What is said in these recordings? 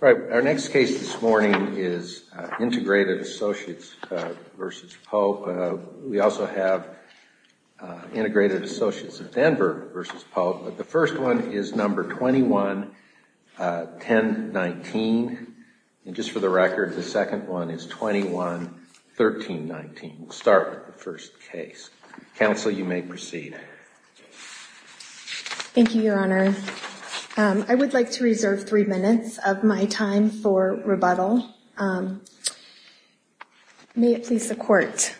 All right, our next case this morning is Integrated Associates v. Pope. We also have Integrated Associates of Denver v. Pope, but the first one is number 21-1019. And just for the record, the second one is 21-1319. We'll start with the first case. Counsel, you may proceed. Thank you, Your Honor. I would like to reserve three minutes of my time for rebuttal. May it please the Court.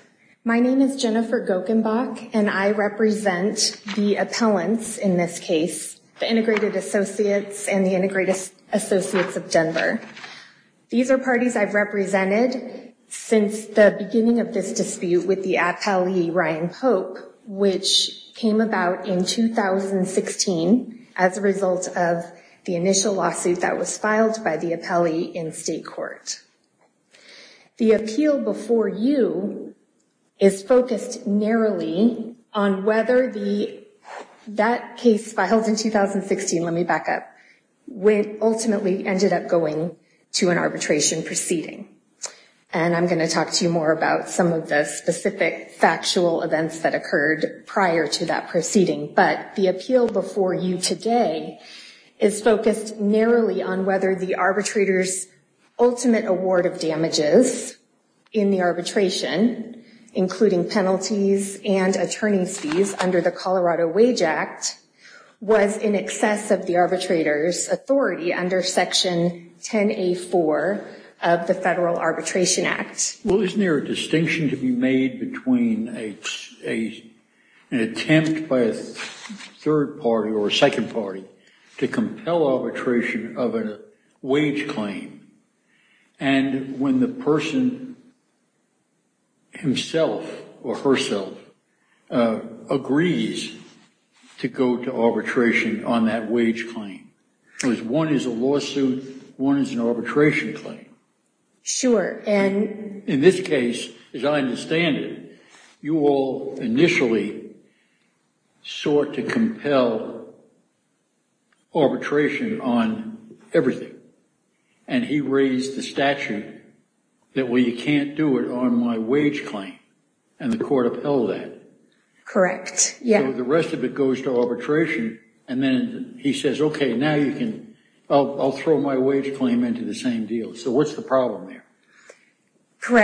My name is Jennifer Gokenbach, and I represent the appellants in this case, the Integrated Associates and the Integrated Associates of Denver. These are parties I've represented since the beginning of this dispute with the appellee Ryan Pope, which came about in 2016 as a result of the initial lawsuit that was filed by the appellee in state court. The appeal before you is focused narrowly on whether the—that case filed in 2016—let me back up—ultimately ended up going to an arbitration proceeding. And I'm going to talk to you more about some of the specific factual events that occurred prior to that proceeding. But the appeal before you today is focused narrowly on whether the arbitrator's ultimate award of damages in the arbitration, including penalties and attorney's fees under the Colorado Wage Act, was in excess of the arbitrator's authority under Section 10A4 of the Federal Law. Well, isn't there a distinction to be made between an attempt by a third party or a second party to compel arbitration of a wage claim and when the person himself or herself agrees to go to arbitration on that wage claim? Because one is a lawsuit, one is an arbitration claim. Sure. And in this case, as I understand it, you all initially sought to compel arbitration on everything. And he raised the statute that, well, you can't do it on my wage claim. And the court upheld that. Correct. Yeah. So the rest of it goes to arbitration. And then he says, OK, now you can—I'll throw my wage claim into the same deal. So what's the problem there? Well,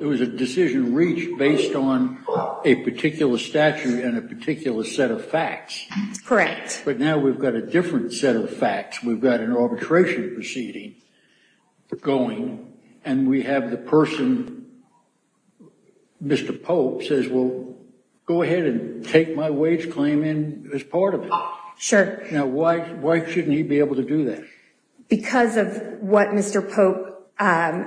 it was a decision reached based on a particular statute and a particular set of facts. Correct. But now we've got a different set of facts. We've got an arbitration proceeding going, and we have the person, Mr. Pope, says, well, go ahead and take my wage claim in as part of it. Sure. Now, why shouldn't he be able to do that? Because of what Mr. Pope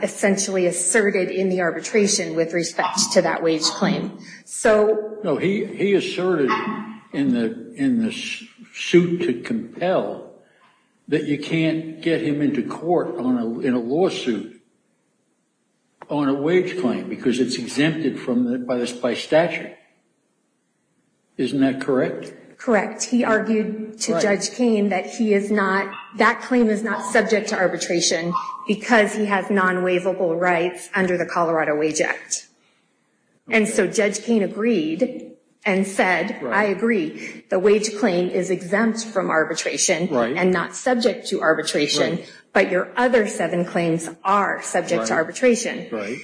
essentially asserted in the arbitration with respect to that wage claim. No, he asserted in the suit to compel that you can't get him into court in a lawsuit on a wage claim because it's exempted by statute. Isn't that correct? Correct. He argued to Judge Kain that he is not—that claim is not subject to arbitration because he has non-waivable rights under the Colorado Wage Act. And so Judge Kain agreed and said, I agree, the wage claim is exempt from arbitration and not subject to arbitration, but your other seven claims are subject to arbitration. Right.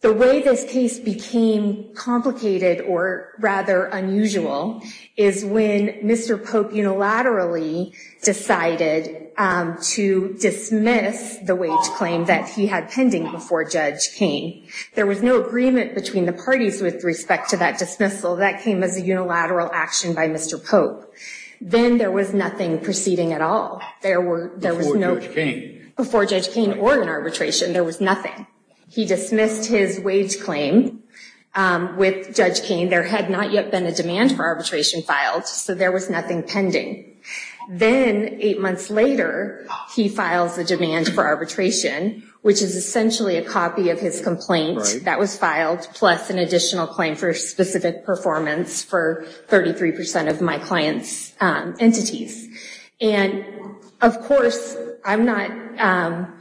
The way this case became complicated or rather unusual is when Mr. Pope unilaterally decided to dismiss the wage claim that he had pending before Judge Kain. There was no agreement between the parties with respect to that dismissal. That came as a unilateral action by Mr. Pope. Then there was nothing proceeding at all. Before Judge Kain. There was nothing. He dismissed his wage claim with Judge Kain. There had not yet been a demand for arbitration filed, so there was nothing pending. Then eight months later, he files a demand for arbitration, which is essentially a copy of his complaint that was filed, plus an additional claim for specific performance for 33 percent of my client's entities. And of course, I'm not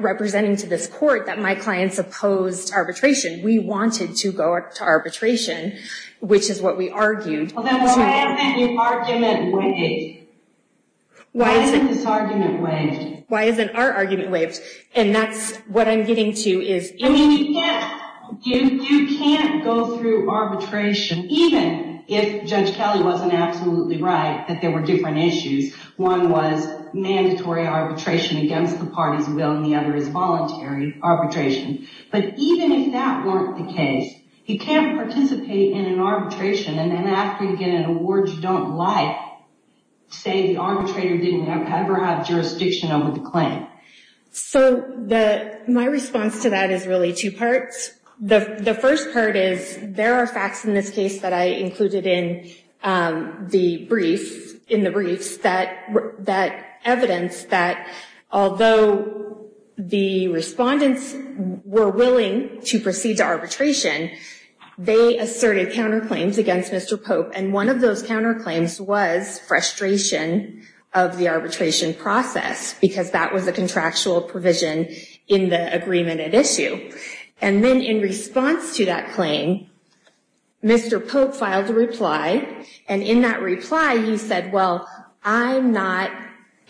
representing to this court that my clients opposed arbitration. We wanted to go up to arbitration, which is what we argued. Then why isn't your argument waived? Why isn't this argument waived? Why isn't our argument waived? And that's what I'm getting to. You can't go through arbitration, even if Judge Kelly wasn't absolutely right that there were different issues. One was mandatory arbitration against the party's will, and the other is voluntary arbitration. But even if that weren't the case, you can't participate in an arbitration and then after you get an award you don't like, say the arbitrator didn't ever have jurisdiction over the claim. So my response to that is really two parts. The first part is there are facts in this case that I included in the briefs that evidence that although the respondents were willing to proceed to arbitration, they asserted counterclaims against Mr. Pope. And one of those counterclaims was frustration of the arbitration process, because that was a contractual provision in the agreement at issue. And then in response to that claim, Mr. Pope filed a reply. And in that reply, he said, well, I'm not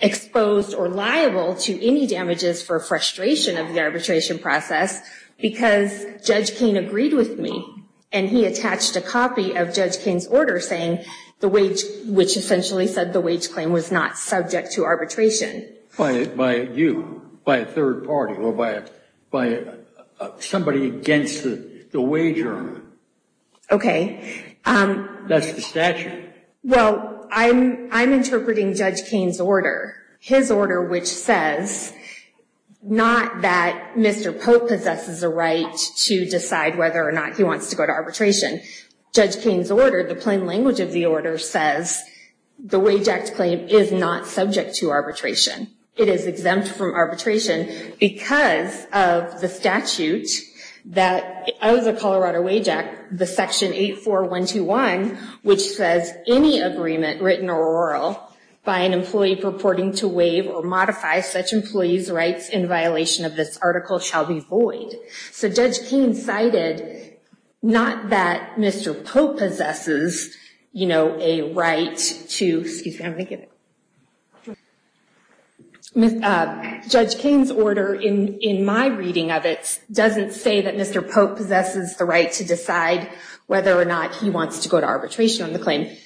exposed or liable to any damages for frustration of the arbitration process, because Judge Kane agreed with me. And he attached a copy of Judge Kane's order saying the wage, which essentially said the wage claim was not subject to arbitration. By you, by a third party, or by somebody against the wager. OK. That's the statute. Well, I'm interpreting Judge Kane's order, his order which says not that Mr. Pope possesses a right to decide whether or not he wants to go to arbitration. Judge Kane's order, the plain language of the order says the wage act claim is not subject to arbitration. It is exempt from arbitration because of the statute that of the Colorado Wage Act, the section 84121, which says any agreement written or oral by an employee purporting to waive or modify such employee's rights in violation of this article shall be void. So Judge Kane cited not that Mr. Pope possesses, you know, a right to, excuse me, I'm going to get, Judge Kane's order in my reading of it doesn't say that Mr. Pope possesses the right to decide whether or not he wants to go to arbitration on the claim. And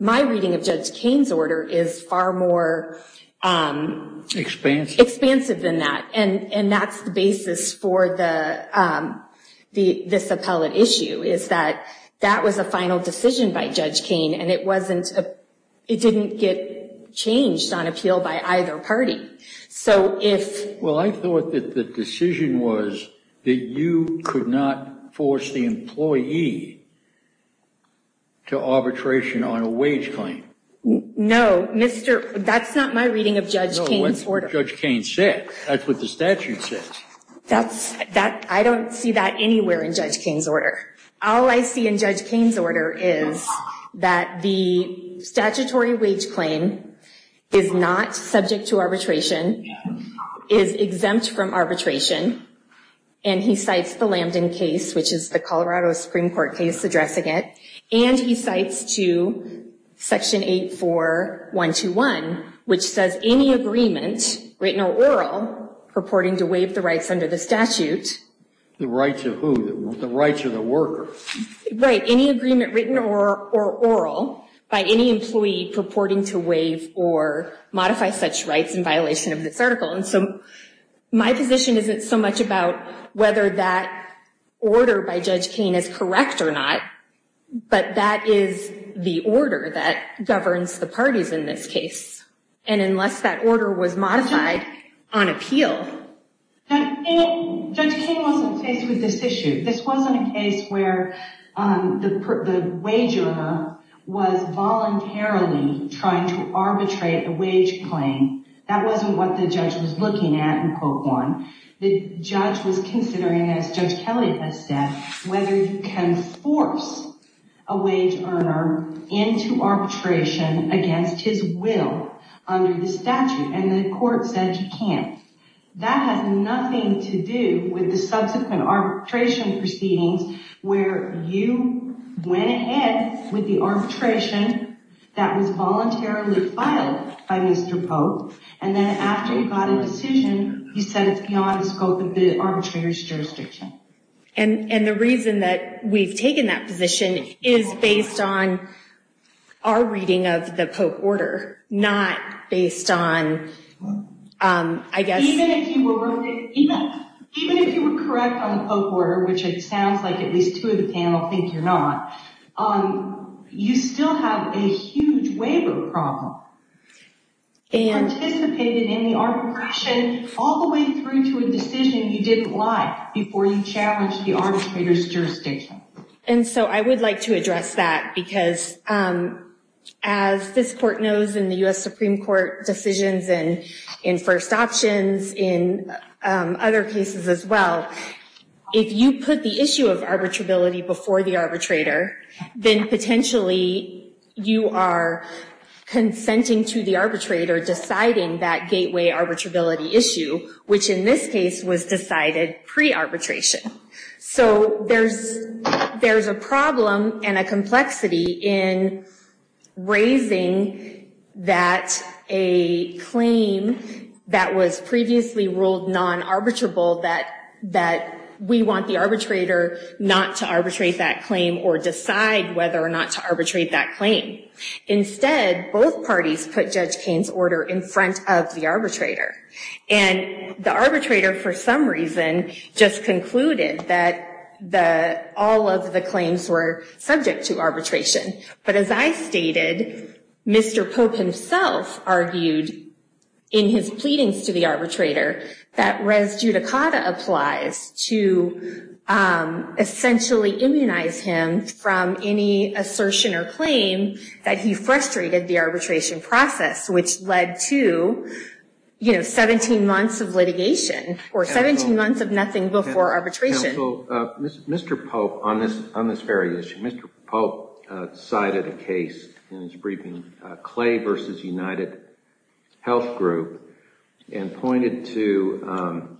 my reading of Judge Kane's order is far more expansive than that. And that's the basis for this appellate issue is that that was a final decision by Judge Kane and it wasn't, it didn't get changed on appeal by either party. Well, I thought that the decision was that you could not force the employee to arbitration on a wage claim. No, Mr., that's not my reading of Judge Kane's order. No, that's what Judge Kane said. That's what the statute says. That's, that, I don't see that anywhere in Judge Kane's order. All I see in Judge Kane's order is that the statutory wage claim is not subject to arbitration, is exempt from arbitration. And he cites the Lambden case, which is the Colorado Supreme Court case addressing it. And he cites to Section 84121, which says any agreement written or oral purporting to waive the rights under the statute. The rights of who? The rights of the worker. Right, any agreement written or oral by any employee purporting to waive or modify such rights in violation of this article. And so my position isn't so much about whether that order by Judge Kane is correct or not, but that is the order that governs the parties in this case. And unless that order was modified on appeal. Judge Kane wasn't faced with this issue. This wasn't a case where the wage owner was voluntarily trying to arbitrate a wage claim. That wasn't what the judge was looking at in quote one. The judge was considering, as Judge Kelly has said, whether you can force a wage earner into arbitration against his will under the statute. And the court said you can't. That has nothing to do with the subsequent arbitration proceedings where you went ahead with the arbitration that was voluntarily filed by Mr. Pope. And then after you got a decision, you said it's beyond the scope of the arbitrator's jurisdiction. And the reason that we've taken that position is based on our reading of the Pope order, not based on, I guess. Even if you were correct on the Pope order, which it sounds like at least two of the panel think you're not, you still have a huge waiver problem. You participated in the arbitration all the way through to a decision you didn't like before you challenged the arbitrator's jurisdiction. And so I would like to address that. Because as this court knows in the US Supreme Court decisions and in first options, in other cases as well, if you put the issue of arbitrability before the arbitrator, then potentially you are consenting to the arbitrator deciding that gateway arbitrability issue, which in this case was decided pre-arbitration. So there's a problem and a complexity in raising that a claim that was previously ruled non-arbitrable, that we want the arbitrator not to arbitrate that claim or decide whether or not to arbitrate that claim. Instead, both parties put Judge Kaine's order in front of the arbitrator. And the arbitrator, for some reason, just concluded that all of the claims were subject to arbitration. But as I stated, Mr. Pope himself argued in his pleadings to the arbitrator that res judicata applies to essentially immunize him from any assertion or claim that he frustrated the arbitration process, which led to 17 months of litigation or 17 months of nothing before arbitration. Counsel, Mr. Pope, on this very issue, Mr. Pope cited a case in his briefing, Clay v. United Health Group, and pointed to,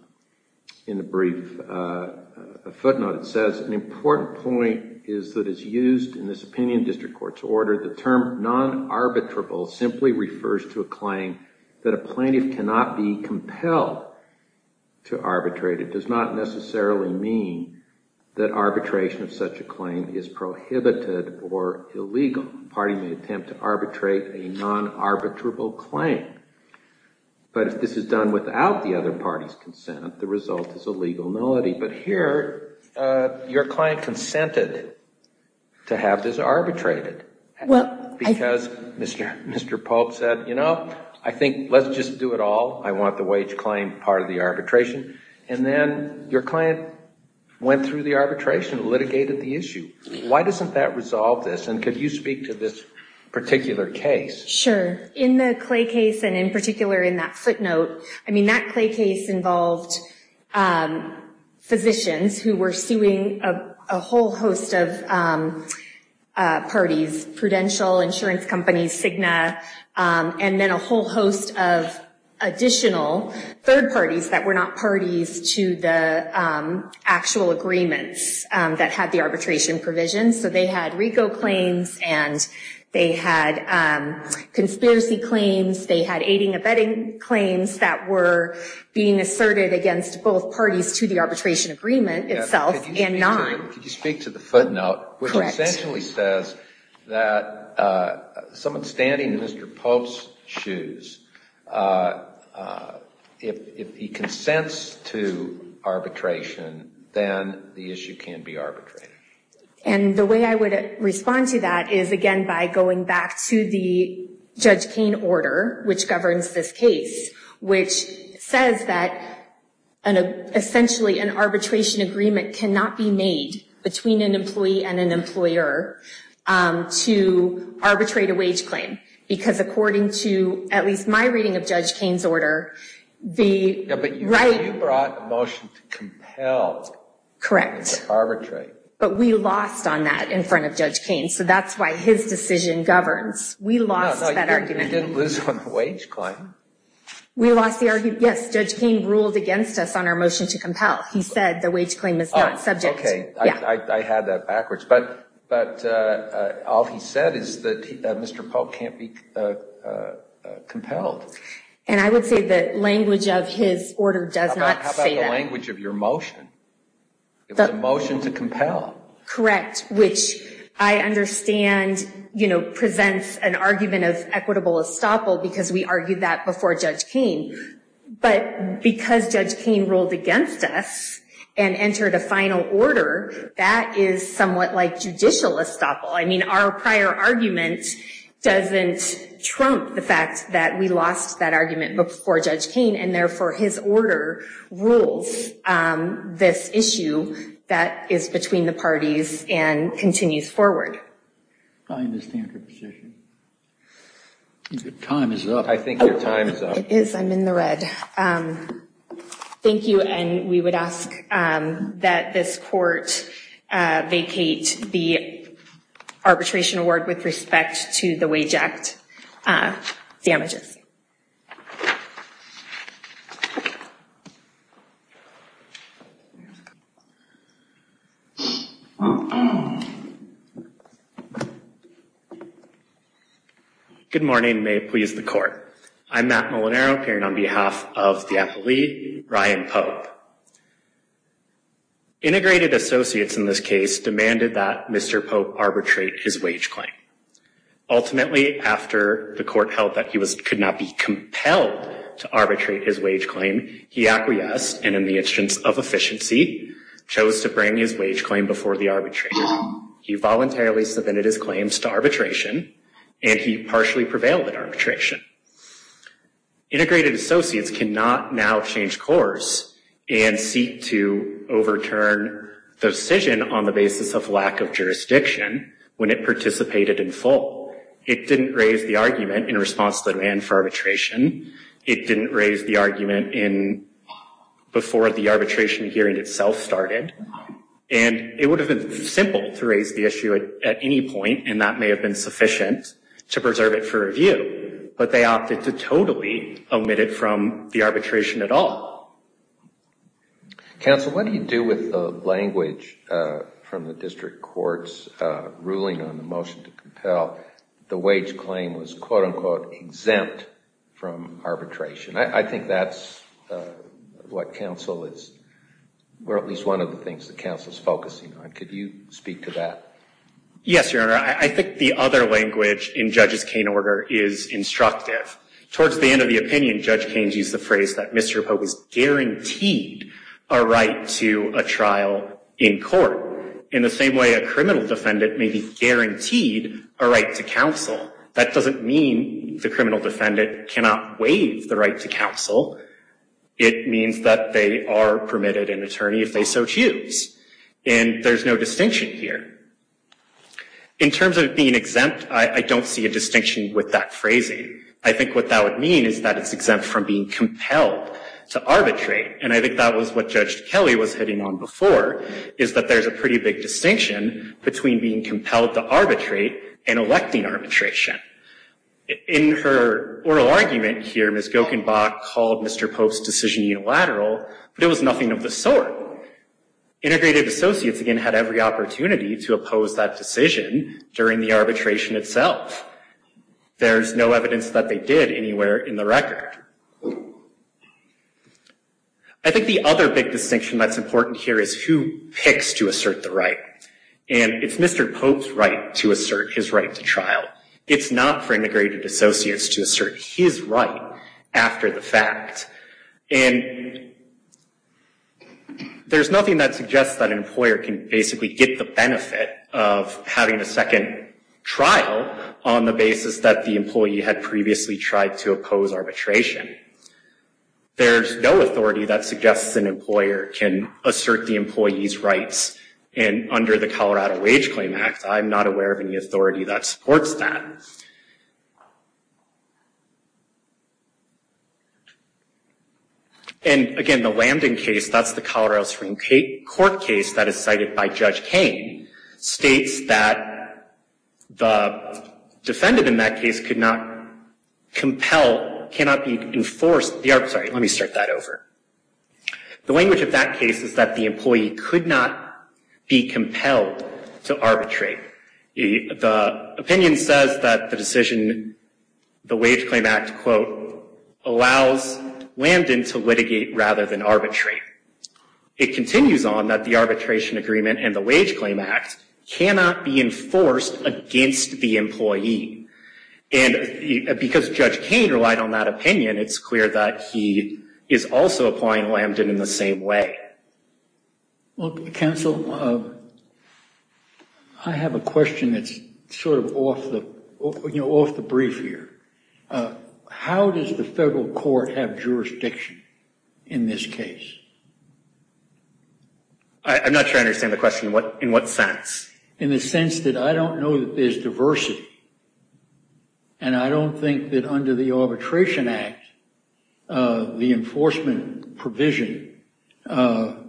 in a brief footnote, it says, an important point is that it's used in this opinion district court's order. The term non-arbitrable simply refers to a claim that a plaintiff cannot be compelled to arbitrate. It does not necessarily mean that arbitration of such a claim is prohibited or illegal. The party may attempt to arbitrate a non-arbitrable claim. But if this is done without the other party's consent, the result is a legal nullity. But here, your client consented to have this arbitrated because Mr. Pope said, you know, I think let's just do it all. I want the wage claim part of the arbitration. And then your client went through the arbitration, litigated the issue. Why doesn't that resolve this? And could you speak to this particular case? Sure. In the Clay case, and in particular in that footnote, I mean, that Clay case involved physicians who were suing a whole host of parties, Prudential, insurance companies, Cigna, and then a whole host of additional third parties that were not parties to the actual agreements that had the arbitration provision. So they had RICO claims and they had conspiracy claims. They had aiding and abetting claims that were being asserted against both parties to the arbitration agreement itself and non. Could you speak to the footnote, which essentially says that someone standing in Mr. Pope's shoes, if he consents to arbitration, then the issue can be arbitrated. And the way I would respond to that is, again, by going back to the Judge Kaine order, which governs this case, which says that essentially an arbitration agreement cannot be made between an employee and an employer to arbitrate a wage claim. Because according to at least my reading of Judge Kaine's order, the right... But you brought a motion to compel. Correct. To arbitrate. But we lost on that in front of Judge Kaine. So that's why his decision governs. We lost that argument. We didn't lose on the wage claim. We lost the argument. Yes, Judge Kaine ruled against us on our motion to compel. He said the wage claim is not subject. Okay. I had that backwards. But all he said is that Mr. Pope can't be compelled. And I would say that language of his order does not say that. How about the language of your motion? It was a motion to compel. Correct. Which I understand, you know, presents an argument of equitable estoppel because we argued that before Judge Kaine. But because Judge Kaine ruled against us and entered a final order, that is somewhat like judicial estoppel. I mean, our prior argument doesn't trump the fact that we lost that argument before Judge Kaine, and therefore his order rules this issue that is between the parties and continues forward. I understand her position. Your time is up. I think your time is up. It is. I'm in the red. Thank you. And we would ask that this court vacate the arbitration award with respect to the wage act damages. Good morning. May it please the court. I'm Matt Molinaro, appearing on behalf of the appellee, Ryan Pope. Integrated associates in this case demanded that Mr. Pope arbitrate his wage claim. Ultimately, after the court held that he could not be compelled to arbitrate his wage claim, he acquiesced and in the instance of efficiency, chose to bring his wage claim before the arbitrator. He voluntarily submitted his claims to arbitration, and he partially prevailed at arbitration. Integrated associates cannot now change course and seek to overturn the decision on the basis of lack of jurisdiction when it participated in full. It didn't raise the argument in response to the demand for arbitration. It didn't raise the argument before the arbitration hearing itself started. And it would have been simple to raise the issue at any point, and that may have been sufficient to preserve it for review. But they opted to totally omit it from the arbitration at all. Counsel, what do you do with the language from the district court's ruling on the motion to compel the wage claim was quote-unquote exempt from arbitration? I think that's what counsel is, or at least one of the things that counsel is focusing on. Could you speak to that? Yes, Your Honor. I think the other language in Judge Kain's order is instructive. Towards the end of the opinion, Judge Kain used the phrase that Mr. Pope is guaranteed a right to a trial in court. In the same way a criminal defendant may be guaranteed a right to counsel, that doesn't mean the criminal defendant cannot waive the right to counsel. It means that they are permitted an attorney if they so choose, and there's no distinction here. In terms of being exempt, I don't see a distinction with that phrasing. I think what that would mean is that it's exempt from being compelled to arbitrate, and I think that was what Judge Kelly was hitting on before, is that there's a pretty big distinction between being compelled to arbitrate and electing arbitration. In her oral argument here, Ms. Gokenbach called Mr. Pope's decision unilateral, but it was nothing of the sort. Integrated Associates, again, had every opportunity to oppose that decision during the arbitration itself. There's no evidence that they did anywhere in the record. I think the other big distinction that's important here is who picks to assert the right, and it's Mr. Pope's right to assert his right to trial. It's not for Integrated Associates to assert his right after the fact, and there's nothing that suggests that an employer can basically get the benefit of having a second trial on the basis that the employee had previously tried to oppose arbitration. There's no authority that suggests an employer can assert the employee's rights, and under the Colorado Wage Claim Act, I'm not aware of any authority that supports that. And again, the Landon case, that's the Colorado Supreme Court case that is cited by Judge Kane, states that the defendant in that case could not compel, cannot be enforced, sorry, let me start that over. The language of that case is that the employee could not be compelled to arbitrate. The opinion says that the decision, the Wage Claim Act, quote, allows Landon to litigate rather than arbitrate. It continues on that the arbitration agreement and the Wage Claim Act cannot be enforced against the employee, and because Judge Kane relied on that opinion, it's clear that he is also applying Landon in the same way. Look, counsel, I have a question that's sort of off the brief here. How does the federal court have jurisdiction in this case? I'm not sure I understand the question. In what sense? In the sense that I don't know that there's diversity, and I don't think that under the Arbitration Act, the enforcement provision, the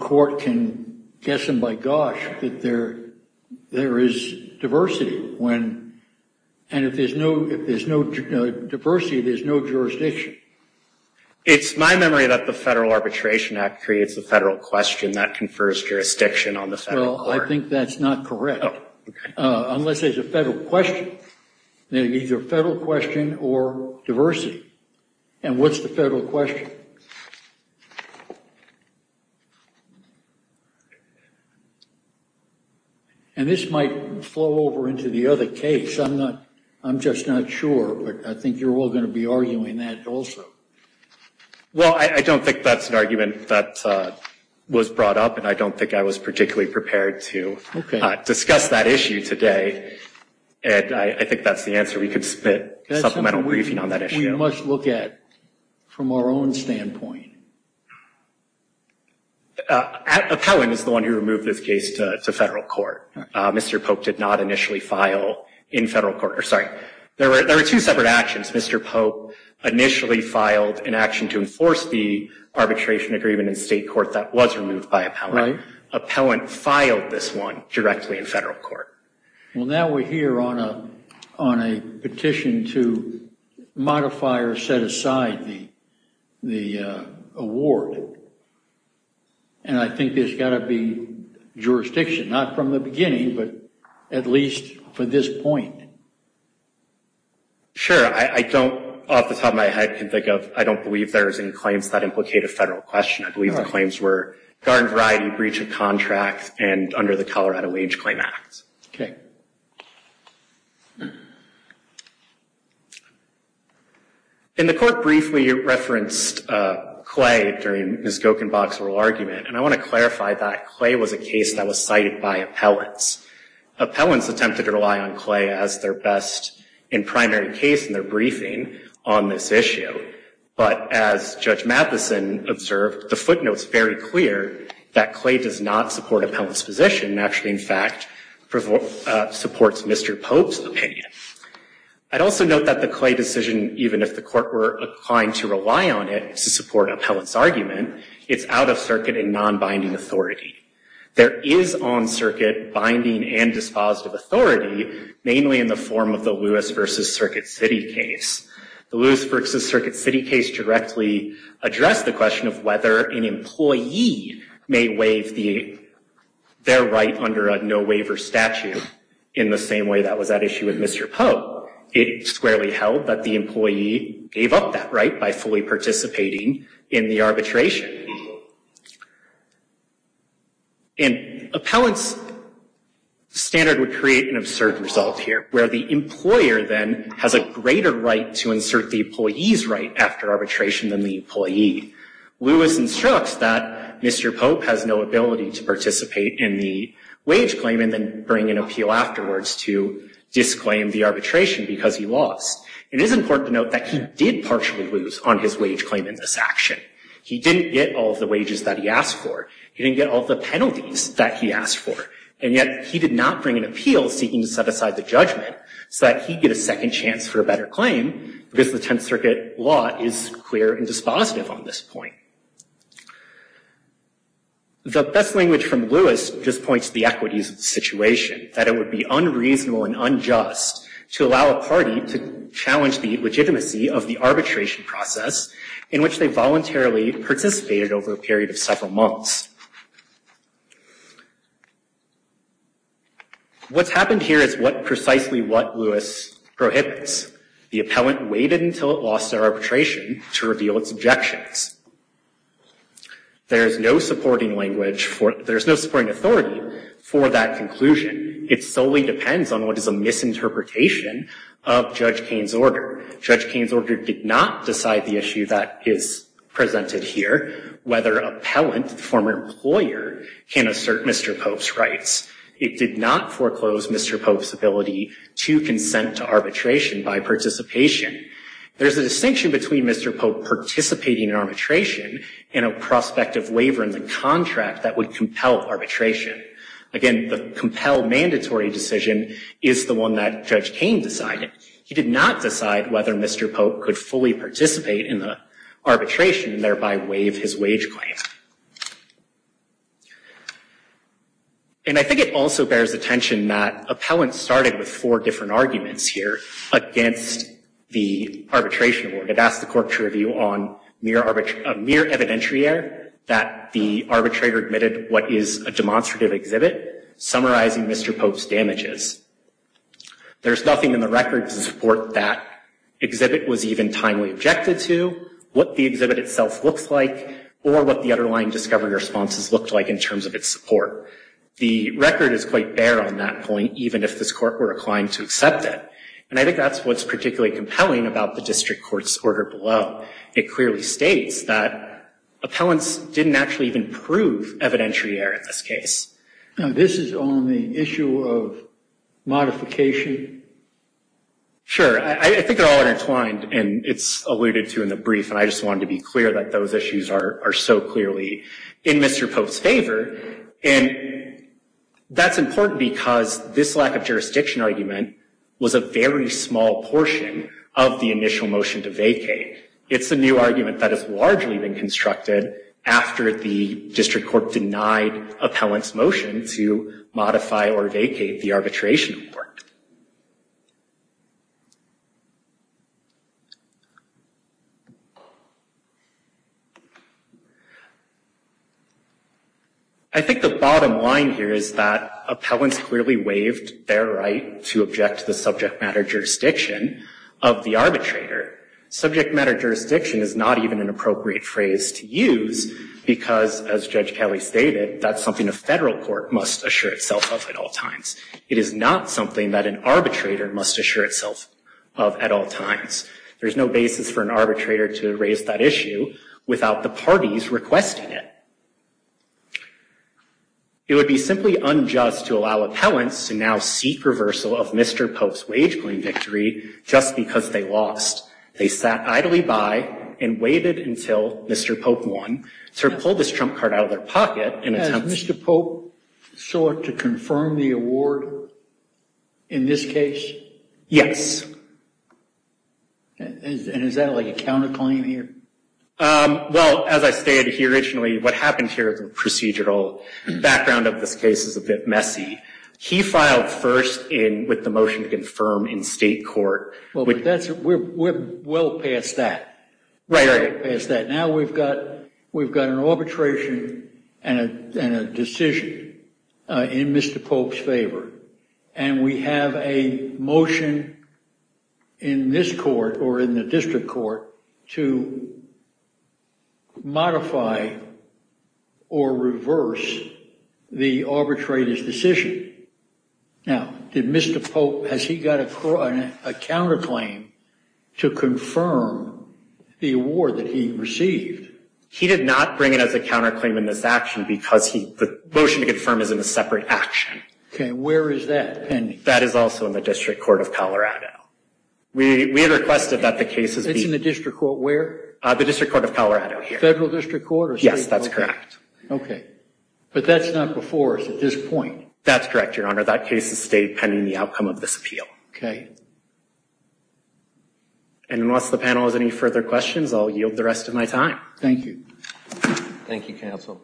court can guess them by gosh that there is diversity, and if there's no diversity, there's no jurisdiction. It's my memory that the Federal Arbitration Act creates the federal question that confers jurisdiction on the federal court. Well, I think that's not correct. Oh, okay. Unless there's a federal question, either a federal question or diversity. And what's the federal question? And this might flow over into the other case. I'm just not sure, but I think you're all going to be arguing that also. Well, I don't think that's an argument that was brought up, and I don't think I was particularly prepared to discuss that issue today, and I think that's the answer. We could submit a supplemental briefing on that issue. That's something we must look at from our own standpoint. Appellant is the one who removed this case to federal court. Mr. Pope did not initially file in federal court. Sorry. There were two separate actions. Mr. Pope initially filed an action to enforce the arbitration agreement in state court that was removed by appellant. Right. Appellant filed this one directly in federal court. Well, now we're here on a petition to modify or set aside the award, and I think there's got to be jurisdiction, not from the beginning, but at least for this point. Sure. I don't, off the top of my head, can think of, I don't believe there's any claims that implicate a federal question. I believe the claims were garden variety, breach of contract, and under the Colorado Wage Claim Act. Okay. And the court briefly referenced Clay during Ms. Gokenbach's oral argument, and I want to clarify that Clay was a case that was cited by appellants. Appellants attempted to rely on Clay as their best and primary case in their briefing on this issue, but as Judge Matheson observed, the footnote's very clear that Clay does not support appellant's position, and actually, in fact, supports Mr. Pope's opinion. I'd also note that the Clay decision, even if the court were inclined to rely on it to support an appellant's argument, it's out of circuit and non-binding authority. There is on circuit binding and dispositive authority, mainly in the form of the Lewis v. Circuit City case. The Lewis v. Circuit City case directly addressed the question of whether an employee may waive their right under a no-waiver statute, in the same way that was at issue with Mr. Pope. It squarely held that the employee gave up that right by fully participating in the arbitration. And appellant's standard would create an absurd result here, where the employer then has a greater right to insert the employee's right after arbitration than the employee. Lewis instructs that Mr. Pope has no ability to participate in the wage claim and then bring an appeal afterwards to disclaim the arbitration because he lost. It is important to note that he did partially lose on his wage claim in this action. He didn't get all of the wages that he asked for. He didn't get all of the penalties that he asked for. And yet he did not bring an appeal seeking to set aside the judgment so that he'd get a second chance for a better claim because the Tenth Circuit law is clear and dispositive on this point. The best language from Lewis just points to the equities of the situation, that it would be unreasonable and unjust to allow a party to challenge the legitimacy of the arbitration process in which they voluntarily participated over a period of several months. What's happened here is precisely what Lewis prohibits. The appellant waited until it lost their arbitration to reveal its objections. There is no supporting language for it. There is no supporting authority for that conclusion. It solely depends on what is a misinterpretation of Judge Kane's order. Judge Kane's order did not decide the issue that is presented here, whether appellant, the former employer, can assert Mr. Pope's rights. It did not foreclose Mr. Pope's ability to consent to arbitration by participation. There's a distinction between Mr. Pope participating in arbitration and a prospective waiver in the contract that would compel arbitration. Again, the compel mandatory decision is the one that Judge Kane decided. He did not decide whether Mr. Pope could fully participate in the arbitration and thereby waive his wage claim. And I think it also bears attention that appellants started with four different arguments here against the arbitration award. It asked the court to review on mere evidentiary error that the arbitrator admitted what is a demonstrative exhibit summarizing Mr. Pope's damages. There's nothing in the record to support that exhibit was even timely objected to, what the exhibit itself looks like, or what the underlying discovery responses looked like in terms of its support. The record is quite bare on that point, even if this court were inclined to accept it. And I think that's what's particularly compelling about the district court's order below. It clearly states that appellants didn't actually even prove evidentiary error in this case. Now, this is on the issue of modification. Sure. I think they're all intertwined, and it's alluded to in the brief, and I just wanted to be clear that those issues are so clearly in Mr. Pope's favor. And that's important because this lack of jurisdiction argument was a very small portion of the initial motion to vacate. It's a new argument that has largely been constructed after the district court denied appellants' motion to modify or vacate the arbitration report. I think the bottom line here is that appellants clearly waived their right to object to the subject matter jurisdiction of the arbitrator. Subject matter jurisdiction is not even an appropriate phrase to use because, as Judge Kelly stated, that's something a federal court must assure itself of at all times. It is not something that an arbitrator must assure itself of at all times. There's no basis for an arbitrator to raise that issue without the parties requesting it. It would be simply unjust to allow appellants to now seek reversal of Mr. Pope's wage claim victory just because they lost. They sat idly by and waited until Mr. Pope won to pull this trump card out of their pocket. Has Mr. Pope sought to confirm the award in this case? Yes. And is that like a counterclaim here? Well, as I stated here originally, what happened here is a procedural background of this case is a bit messy. He filed first with the motion to confirm in state court. We're well past that. Now we've got an arbitration and a decision in Mr. Pope's favor, and we have a motion in this court or in the district court to modify or reverse the arbitrator's decision. Now, did Mr. Pope, has he got a counterclaim to confirm the award that he received? He did not bring it as a counterclaim in this action because the motion to confirm is in a separate action. Okay, where is that pending? That is also in the district court of Colorado. We requested that the case be… It's in the district court where? The district court of Colorado here. Federal district court or state court? Yes, that's correct. Okay. But that's not before us at this point. That's correct, Your Honor. That case has stayed pending the outcome of this appeal. Okay. And unless the panel has any further questions, I'll yield the rest of my time. Thank you. Thank you, counsel.